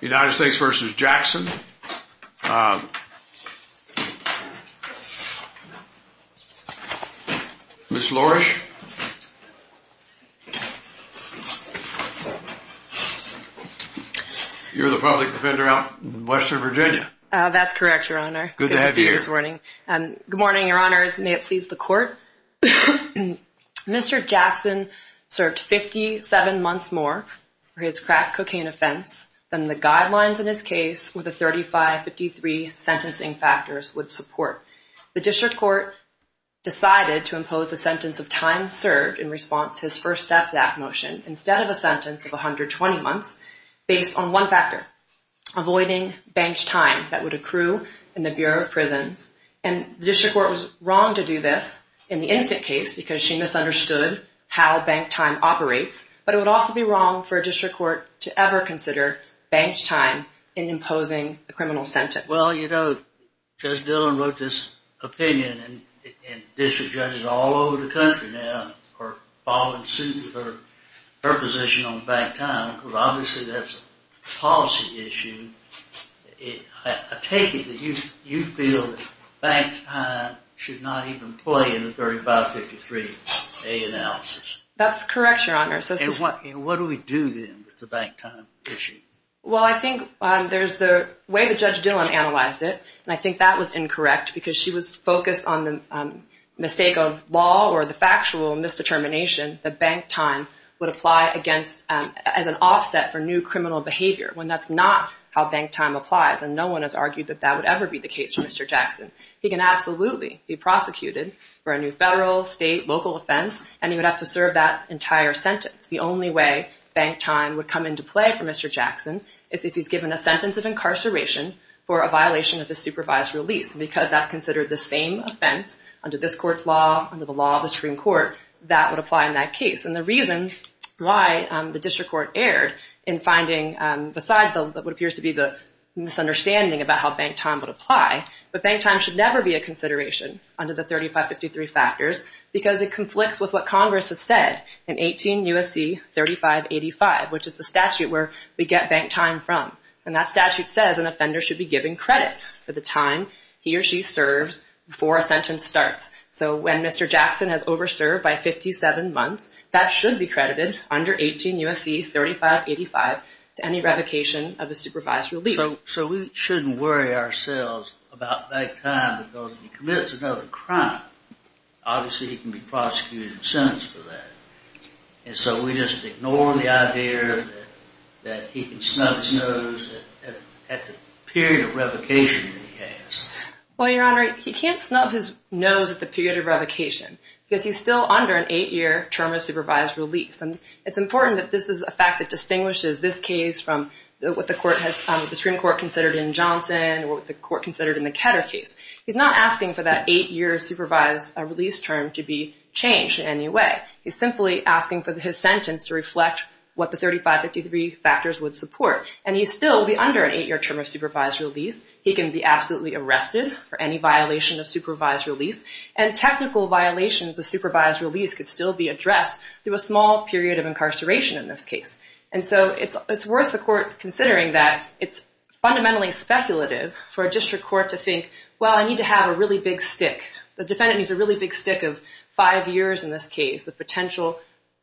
United States v. Jackson Ms. Lourish You're the public defender out in Western Virginia. That's correct, your honor. Good to have you here. Good morning, your honors. May it please the court. Mr. Jackson served 57 months more for his crack cocaine offense than the guidelines in his case with the 3553 sentencing factors would support. The district court decided to impose a sentence of time served in response to his first step back motion instead of a sentence of 120 months based on one factor, avoiding banked time that would accrue in the Bureau of Prisons. And the district court was wrong to do this in the instant case because she misunderstood how banked time operates. But it would also be wrong for a district court to ever consider banked time in imposing a criminal sentence. Well, you know, Judge Dillon wrote this opinion and district judges all over the country now are following suit with her position on banked time because obviously that's a policy issue. I take it that you feel that banked time should not even play in the 3553A analysis. That's correct, your honor. And what do we do then with the banked time issue? Well, I think there's the way that Judge Dillon analyzed it, and I think that was incorrect because she was focused on the mistake of law or the factual misdetermination that banked time would apply as an offset for new criminal behavior when that's not how banked time applies. And no one has argued that that would ever be the case for Mr. Jackson. He can absolutely be prosecuted for a new federal, state, local offense, and he would have to serve that entire sentence. The only way banked time would come into play for Mr. Jackson is if he's given a sentence of incarceration for a violation of the supervised release. Because that's considered the same offense under this court's law, under the law of the Supreme Court, that would apply in that case. And the reason why the district court erred in finding, besides what appears to be the misunderstanding about how banked time would apply, but banked time should never be a consideration under the 3553 factors because it conflicts with what Congress has said in 18 U.S.C. 3585, which is the statute where we get banked time from. And that statute says an offender should be given credit for the time he or she serves before a sentence starts. So when Mr. Jackson has over-served by 57 months, that should be credited under 18 U.S.C. 3585 to any revocation of the supervised release. So we shouldn't worry ourselves about banked time because if he commits another crime, obviously he can be prosecuted and sentenced for that. And so we just ignore the idea that he can snub his nose at the period of revocation that he has. Well, Your Honor, he can't snub his nose at the period of revocation because he's still under an eight-year term of supervised release. And it's important that this is a fact that distinguishes this case from what the Supreme Court considered in Johnson or what the court considered in the Ketter case. He's not asking for that eight-year supervised release term to be changed in any way. He's simply asking for his sentence to reflect what the 3553 factors would support. And he still will be under an eight-year term of supervised release. He can be absolutely arrested for any violation of supervised release. And technical violations of supervised release could still be addressed through a small period of incarceration in this case. And so it's worth the court considering that it's fundamentally speculative for a district court to think, well, I need to have a really big stick. The defendant needs a really big stick of five years in this case, the potential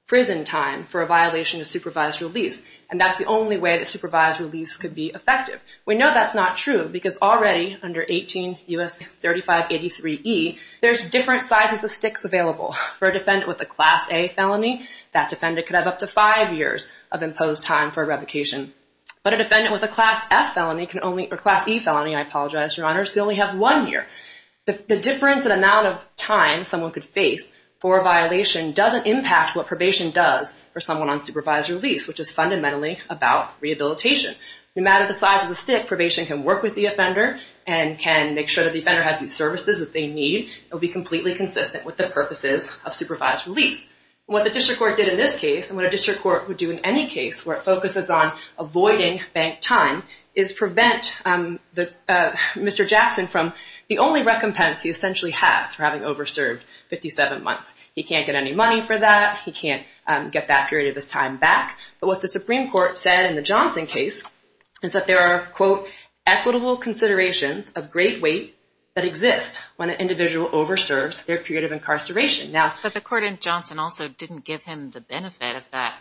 prison time for a violation of supervised release. And that's the only way that supervised release could be effective. We know that's not true because already under 18 U.S. 3583e, there's different sizes of sticks available. For a defendant with a Class A felony, that defendant could have up to five years. of imposed time for revocation. But a defendant with a Class F felony, or Class E felony, I apologize, Your Honors, could only have one year. The difference in amount of time someone could face for a violation doesn't impact what probation does for someone on supervised release, which is fundamentally about rehabilitation. No matter the size of the stick, probation can work with the offender and can make sure that the offender has the services that they need and be completely consistent with the purposes of supervised release. What the district court did in this case, and what a district court would do in any case where it focuses on avoiding bank time, is prevent Mr. Jackson from the only recompense he essentially has for having over-served 57 months. He can't get any money for that. He can't get that period of his time back. But what the Supreme Court said in the Johnson case is that there are, quote, equitable considerations of great weight that exist when an individual over-serves their period of incarceration. But the court in Johnson also didn't give him the benefit of that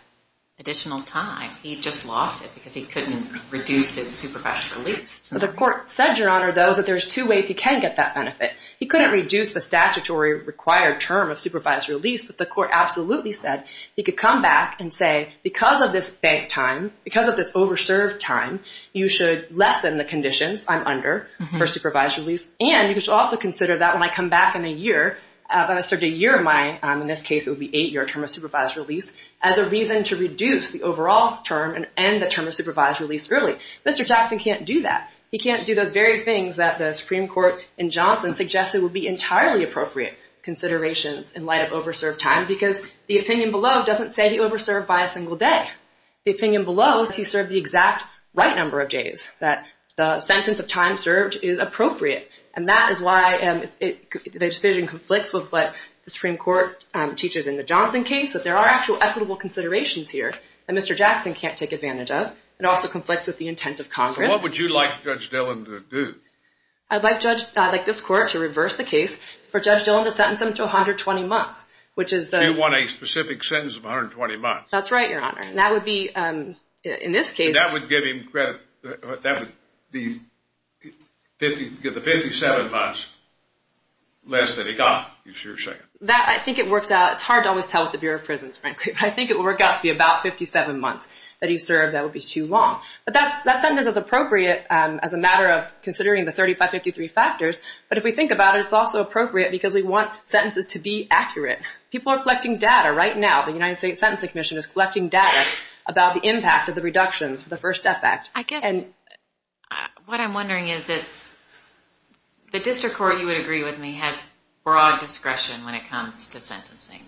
additional time. He just lost it because he couldn't reduce his supervised release. The court said, Your Honor, though, that there's two ways he can get that benefit. He couldn't reduce the statutory required term of supervised release, but the court absolutely said he could come back and say, because of this bank time, because of this over-served time, you should lessen the conditions I'm under for supervised release, and you should also consider that when I come back in a year, when I start a year of my, in this case it would be 8-year term of supervised release, as a reason to reduce the overall term and end the term of supervised release early. Mr. Jackson can't do that. He can't do those very things that the Supreme Court in Johnson suggested would be entirely appropriate considerations in light of over-served time because the opinion below doesn't say he over-served by a single day. The opinion below is he served the exact right number of days, that the sentence of time served is appropriate. And that is why the decision conflicts with what the Supreme Court teaches in the Johnson case, that there are actual equitable considerations here that Mr. Jackson can't take advantage of. It also conflicts with the intent of Congress. What would you like Judge Dillon to do? I'd like this court to reverse the case for Judge Dillon to sentence him to 120 months, which is the— Do you want a specific sentence of 120 months? That's right, Your Honor. And that would be, in this case— That would give him credit. That would be 57 months less than he got, you're saying. I think it works out. It's hard to always tell with the Bureau of Prisons, frankly. I think it will work out to be about 57 months that he served. That would be too long. But that sentence is appropriate as a matter of considering the 3553 factors. But if we think about it, it's also appropriate because we want sentences to be accurate. People are collecting data right now. The United States Sentencing Commission is collecting data about the impact of the reductions for the First Death Act. What I'm wondering is it's—the district court, you would agree with me, has broad discretion when it comes to sentencing.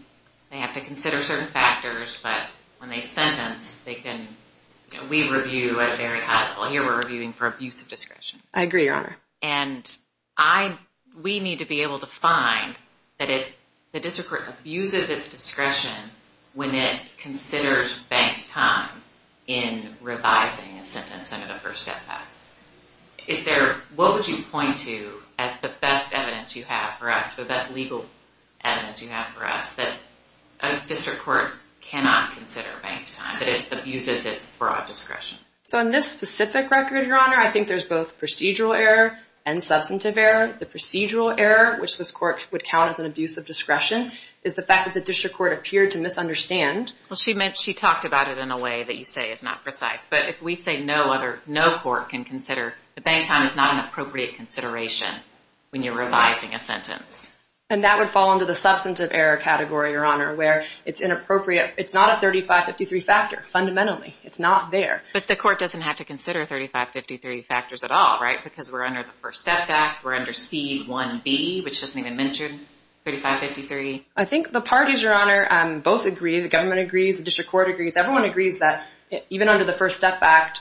They have to consider certain factors, but when they sentence, they can—we review at a very high level. Here we're reviewing for abuse of discretion. I agree, Your Honor. We need to be able to find that the district court abuses its discretion when it considers banked time in revising a sentence under the First Death Act. Is there—what would you point to as the best evidence you have for us, the best legal evidence you have for us, that a district court cannot consider banked time, that it abuses its broad discretion? So in this specific record, Your Honor, I think there's both procedural error and substantive error. The procedural error, which this court would count as an abuse of discretion, is the fact that the district court appeared to misunderstand. Well, she meant—she talked about it in a way that you say is not precise. But if we say no other—no court can consider—the banked time is not an appropriate consideration when you're revising a sentence. And that would fall under the substantive error category, Your Honor, where it's inappropriate. It's not a 3553 factor, fundamentally. It's not there. But the court doesn't have to consider 3553 factors at all, right? Because we're under the First Death Act. We're under C-1B, which doesn't even mention 3553. I think the parties, Your Honor, both agree. The government agrees. The district court agrees. Everyone agrees that even under the First Death Act,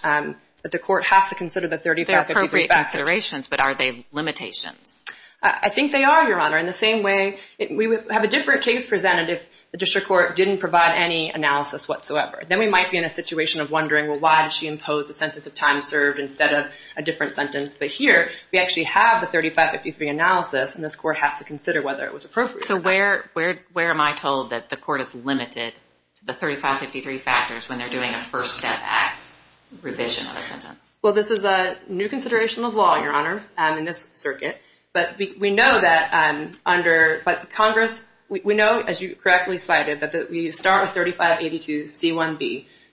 the court has to consider the 3553 factors. They're appropriate considerations, but are they limitations? I think they are, Your Honor. In the same way, we would have a different case presented if the district court didn't provide any analysis whatsoever. Then we might be in a situation of wondering, well, why did she impose a sentence of time served instead of a different sentence? But here, we actually have the 3553 analysis, and this court has to consider whether it was appropriate. So where am I told that the court is limited to the 3553 factors when they're doing a First Death Act revision of a sentence? Well, this is a new consideration of law, Your Honor, in this circuit. But we know, as you correctly cited, that we start with 3582 C-1B,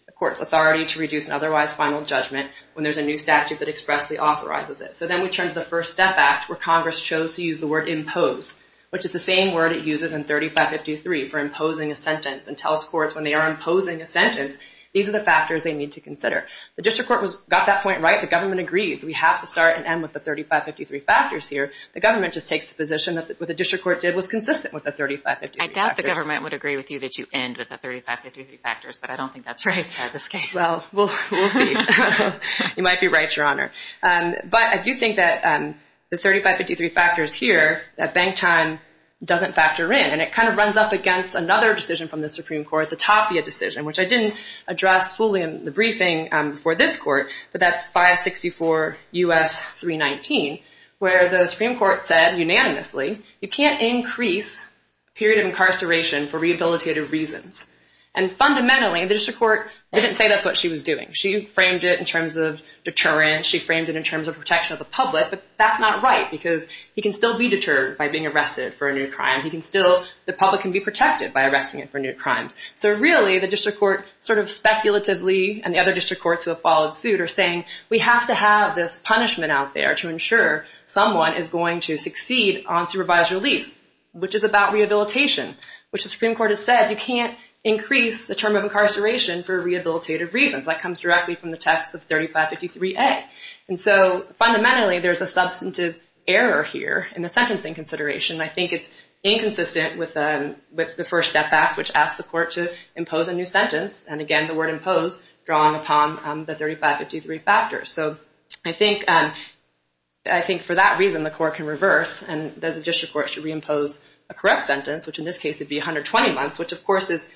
the court's authority to reduce an otherwise final judgment, when there's a new statute that expressly authorizes it. So then we turn to the First Death Act, where Congress chose to use the word impose, which is the same word it uses in 3553 for imposing a sentence and tells courts when they are imposing a sentence, these are the factors they need to consider. The district court got that point right. The government agrees. We have to start and end with the 3553 factors here. The government just takes the position that what the district court did was consistent with the 3553 factors. I doubt the government would agree with you that you end with the 3553 factors, but I don't think that's right in this case. Well, we'll see. You might be right, Your Honor. But I do think that the 3553 factors here, that bank time doesn't factor in, and it kind of runs up against another decision from the Supreme Court, the Tapia decision, which I didn't address fully in the briefing for this court, but that's 564 U.S. 319, where the Supreme Court said unanimously you can't increase period of incarceration for rehabilitative reasons. And fundamentally, the district court didn't say that's what she was doing. She framed it in terms of deterrence. She framed it in terms of protection of the public. But that's not right because he can still be deterred by being arrested for a new crime. He can still – the public can be protected by arresting him for new crimes. So really, the district court sort of speculatively, and the other district courts who have followed suit, are saying we have to have this punishment out there to ensure someone is going to succeed on supervised release, which is about rehabilitation, which the Supreme Court has said you can't increase the term of incarceration for rehabilitative reasons. That comes directly from the text of 3553A. And so fundamentally, there's a substantive error here in the sentencing consideration, and I think it's inconsistent with the first step back, which asks the court to impose a new sentence. And again, the word impose drawn upon the 3553 factor. So I think for that reason, the court can reverse, and the district court should reimpose a correct sentence, which in this case would be 120 months, which of course is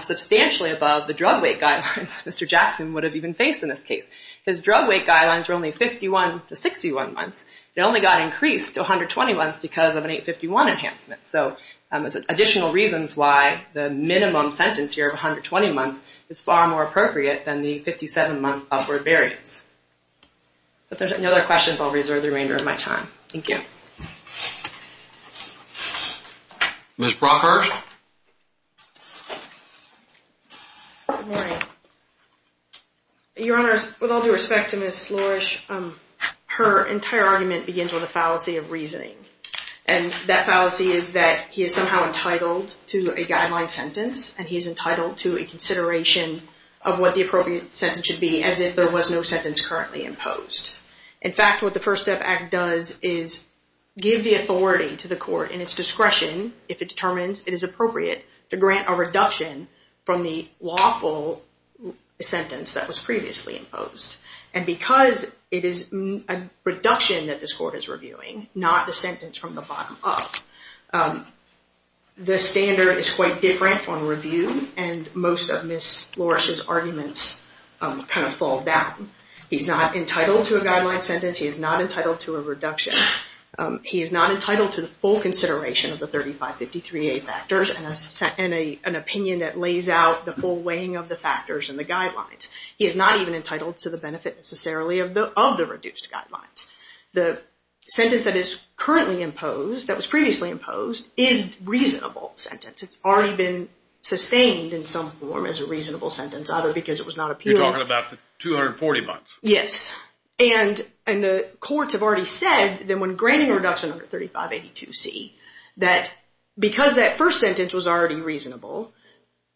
substantially above the drug weight guidelines Mr. Jackson would have even faced in this case. His drug weight guidelines were only 51 to 61 months. It only got increased to 120 months because of an 851 enhancement. So additional reasons why the minimum sentence here of 120 months is far more appropriate than the 57-month upward variance. If there's any other questions, I'll reserve the remainder of my time. Thank you. Ms. Brockhurst? Good morning. Your Honor, with all due respect to Ms. Lourish, her entire argument begins with a fallacy of reasoning. And that fallacy is that he is somehow entitled to a guideline sentence, and he is entitled to a consideration of what the appropriate sentence should be, as if there was no sentence currently imposed. In fact, what the First Step Act does is give the authority to the court in its discretion, if it determines it is appropriate, to grant a reduction from the lawful sentence that was previously imposed. And because it is a reduction that this court is reviewing, not a sentence from the bottom up, the standard is quite different on review, and most of Ms. Lourish's arguments kind of fall back. He's not entitled to a guideline sentence. He is not entitled to a reduction. He is not entitled to the full consideration of the 3553A factors and an opinion that lays out the full weighing of the factors and the guidelines. He is not even entitled to the benefit, necessarily, of the reduced guidelines. The sentence that is currently imposed, that was previously imposed, is a reasonable sentence. It's already been sustained in some form as a reasonable sentence, either because it was not appealed. You're talking about the 240 months? Yes. And the courts have already said that when granting a reduction under 3582C, that because that first sentence was already reasonable,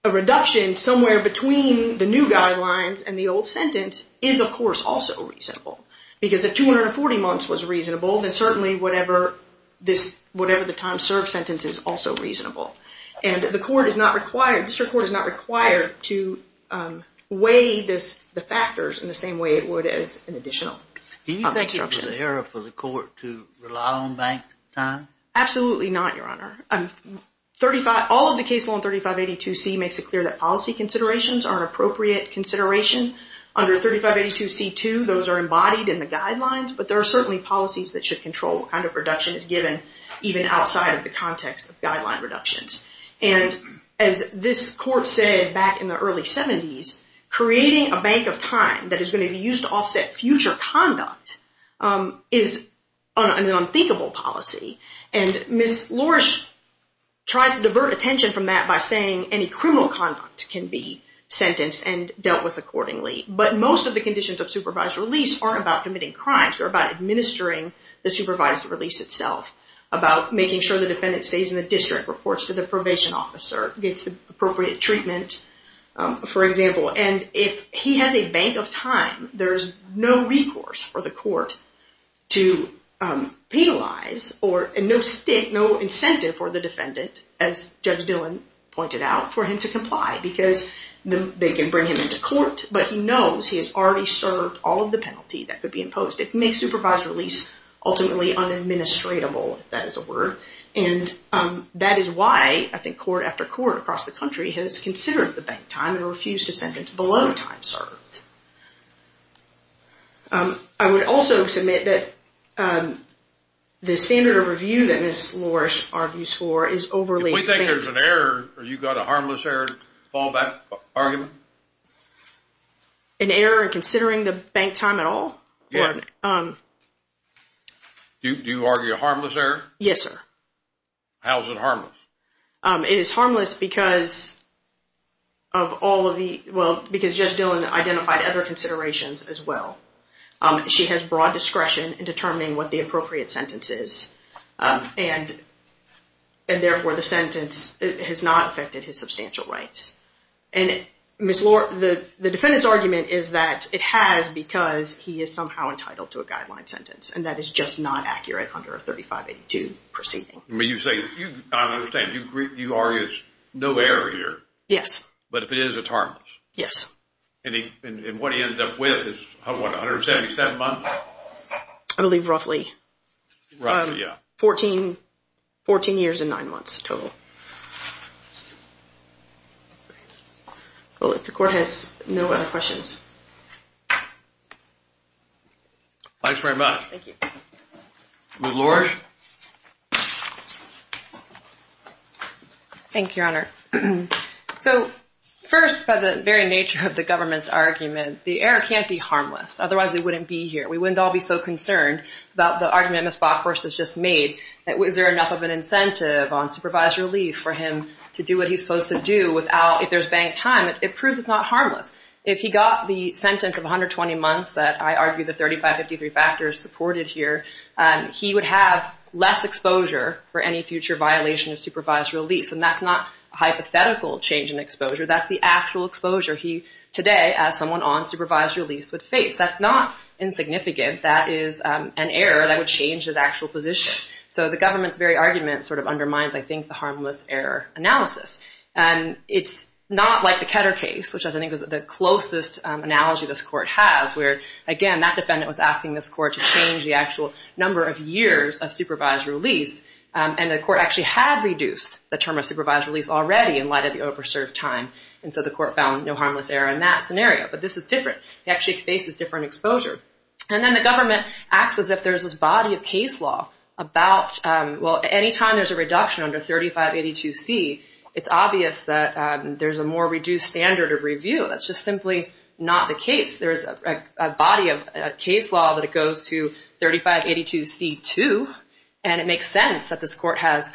a reduction somewhere between the new guidelines and the old sentence is, of course, also reasonable. Because if 240 months was reasonable, then certainly whatever the time served sentence is also reasonable. And the court is not required, the district court is not required, to weigh the factors in the same way it would as an additional. Do you think it's an error for the court to rely on bank time? Absolutely not, Your Honor. All of the case law in 3582C makes it clear that policy considerations are an appropriate consideration. Under 3582C2, those are embodied in the guidelines, but there are certainly policies that should control what kind of reduction is given, even outside of the context of guideline reductions. And as this court said back in the early 70s, creating a bank of time that is going to be used to offset future conduct is an unthinkable policy. And Ms. Lorsch tries to divert attention from that by saying any criminal conduct can be sentenced and dealt with accordingly. But most of the conditions of supervised release are about committing crimes, they're about administering the supervised release itself, about making sure the defendant stays in the district, reports to the probation officer, gets the appropriate treatment, for example. And if he has a bank of time, there's no recourse for the court to penalize, or no incentive for the defendant, as Judge Dillon pointed out, for him to comply. Because they can bring him into court, but he knows he has already served all of the penalty that could be imposed. It makes supervised release ultimately unadministratable, if that is a word. And that is why, I think, court after court across the country has considered the bank time and refused to sentence below time served. I would also submit that the standard of review that Ms. Lorsch argues for is overly expensive. If we think there's an error, or you've got a harmless error fallback argument? An error in considering the bank time at all? Do you argue a harmless error? Yes, sir. How is it harmless? It is harmless because Judge Dillon identified other considerations as well. She has broad discretion in determining what the appropriate sentence is, and therefore the sentence has not affected his substantial rights. And Ms. Lorsch, the defendant's argument is that it has because he is somehow entitled to a guideline sentence. And that is just not accurate under a 3582 proceeding. You say, I understand, you argue it's no error here. Yes. But if it is, it's harmless. Yes. And what he ended up with is, what, 177 months? I believe roughly. Right, yeah. Fourteen years and nine months total. The court has no other questions. Thanks very much. Thank you. Ms. Lorsch? Thank you, Your Honor. So first, by the very nature of the government's argument, the error can't be harmless. Otherwise, it wouldn't be here. We wouldn't all be so concerned about the argument Ms. Bockhorst has just made. Is there enough of an incentive on supervised release for him to do what he's supposed to do if there's bank time? It proves it's not harmless. If he got the sentence of 120 months that I argue the 3553 factors supported here, he would have less exposure for any future violation of supervised release. And that's not a hypothetical change in exposure. That's the actual exposure he, today, as someone on supervised release, would face. That's not insignificant. That is an error that would change his actual position. So the government's very argument sort of undermines, I think, the harmless error analysis. And it's not like the Ketter case, which I think is the closest analogy this court has, where, again, that defendant was asking this court to change the actual number of years of supervised release, and the court actually had reduced the term of supervised release already in light of the overserved time. And so the court found no harmless error in that scenario. But this is different. He actually faces different exposure. And then the government acts as if there's this body of case law about, well, any time there's a reduction under 3582C, it's obvious that there's a more reduced standard of review. That's just simply not the case. There's a body of case law that it goes to 3582C2, and it makes sense that this court has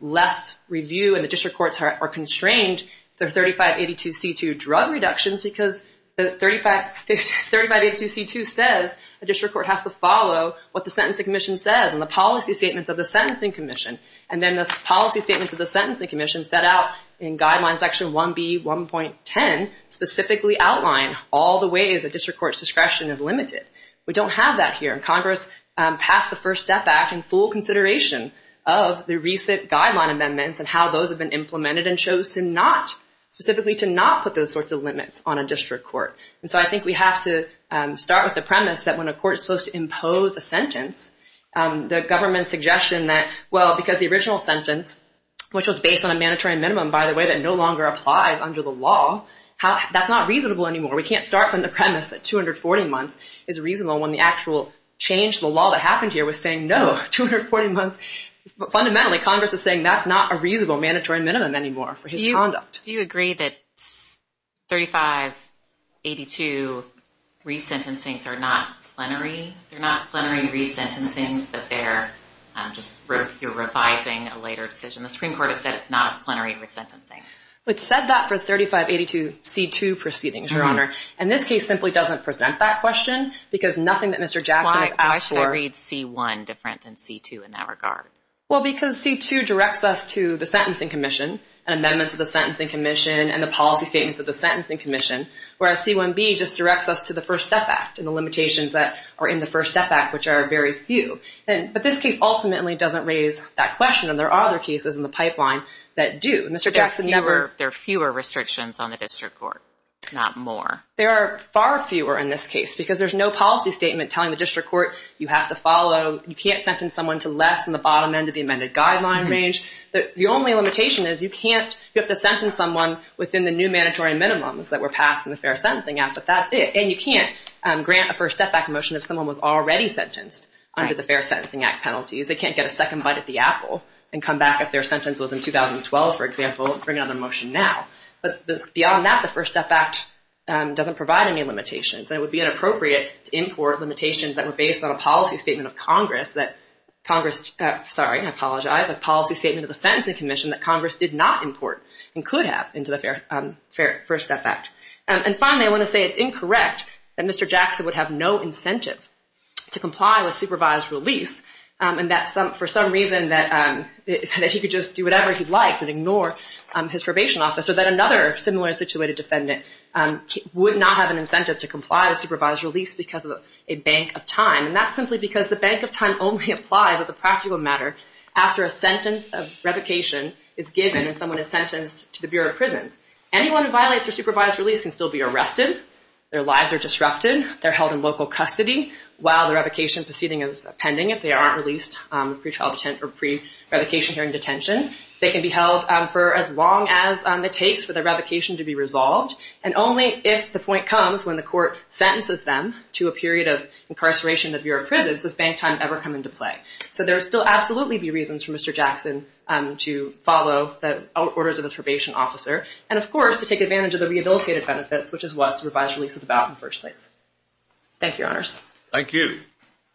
less review, and the district courts are constrained their 3582C2 drug reductions, because 3582C2 says the district court has to follow what the sentencing commission says and the policy statements of the sentencing commission. And then the policy statements of the sentencing commission set out in Guideline Section 1B1.10 specifically outline all the ways a district court's discretion is limited. We don't have that here. Congress passed the First Step Act in full consideration of the recent guideline amendments and how those have been implemented and chose to not, specifically to not put those sorts of limits on a district court. And so I think we have to start with the premise that when a court is supposed to impose a sentence, the government's suggestion that, well, because the original sentence, which was based on a mandatory minimum, by the way, that no longer applies under the law, that's not reasonable anymore. We can't start from the premise that 240 months is reasonable when the actual change to the law that happened here was saying no, 240 months. Fundamentally, Congress is saying that's not a reasonable mandatory minimum anymore for his conduct. Do you agree that 3582 resentencings are not plenary? They're not plenary resentencings, but they're just revising a later decision. The Supreme Court has said it's not a plenary resentencing. It said that for 3582C2 proceedings, Your Honor. And this case simply doesn't present that question because nothing that Mr. Jackson has asked for. Why is C1 different than C2 in that regard? Well, because C2 directs us to the Sentencing Commission and amendments of the Sentencing Commission and the policy statements of the Sentencing Commission, whereas C1b just directs us to the First Step Act and the limitations that are in the First Step Act, which are very few. But this case ultimately doesn't raise that question, and there are other cases in the pipeline that do. There are fewer restrictions on the district court, not more. There are far fewer in this case because there's no policy statement telling the district court you have to follow, you can't sentence someone to less than the bottom end of the amended guideline range. The only limitation is you have to sentence someone within the new mandatory minimums that were passed in the Fair Sentencing Act, but that's it. And you can't grant a First Step Act motion if someone was already sentenced under the Fair Sentencing Act penalties. They can't get a second bite at the apple and come back if their sentence was in 2012, for example, and bring out a motion now. But beyond that, the First Step Act doesn't provide any limitations. It would be inappropriate to import limitations that were based on a policy statement of Congress that Congress, sorry, I apologize, a policy statement of the Sentencing Commission that Congress did not import and could have into the Fair First Step Act. And finally, I want to say it's incorrect that Mr. Jackson would have no incentive to comply with supervised release and that for some reason that he could just do whatever he liked and ignore his probation officer, that another similar situated defendant would not have an incentive to comply with supervised release because of a bank of time, and that's simply because the bank of time only applies as a practical matter after a sentence of revocation is given and someone is sentenced to the Bureau of Prisons. Anyone who violates their supervised release can still be arrested. Their lives are disrupted. They're held in local custody while the revocation proceeding is pending. If they aren't released pre-trial detention or pre-revocation hearing detention, they can be held for as long as it takes for the revocation to be resolved, and only if the point comes when the court sentences them to a period of incarceration in the Bureau of Prisons does bank time ever come into play. So there would still absolutely be reasons for Mr. Jackson to follow the orders of his probation officer and, of course, to take advantage of the rehabilitative benefits, which is what supervised release is about in the first place. Thank you, Your Honors. Thank you.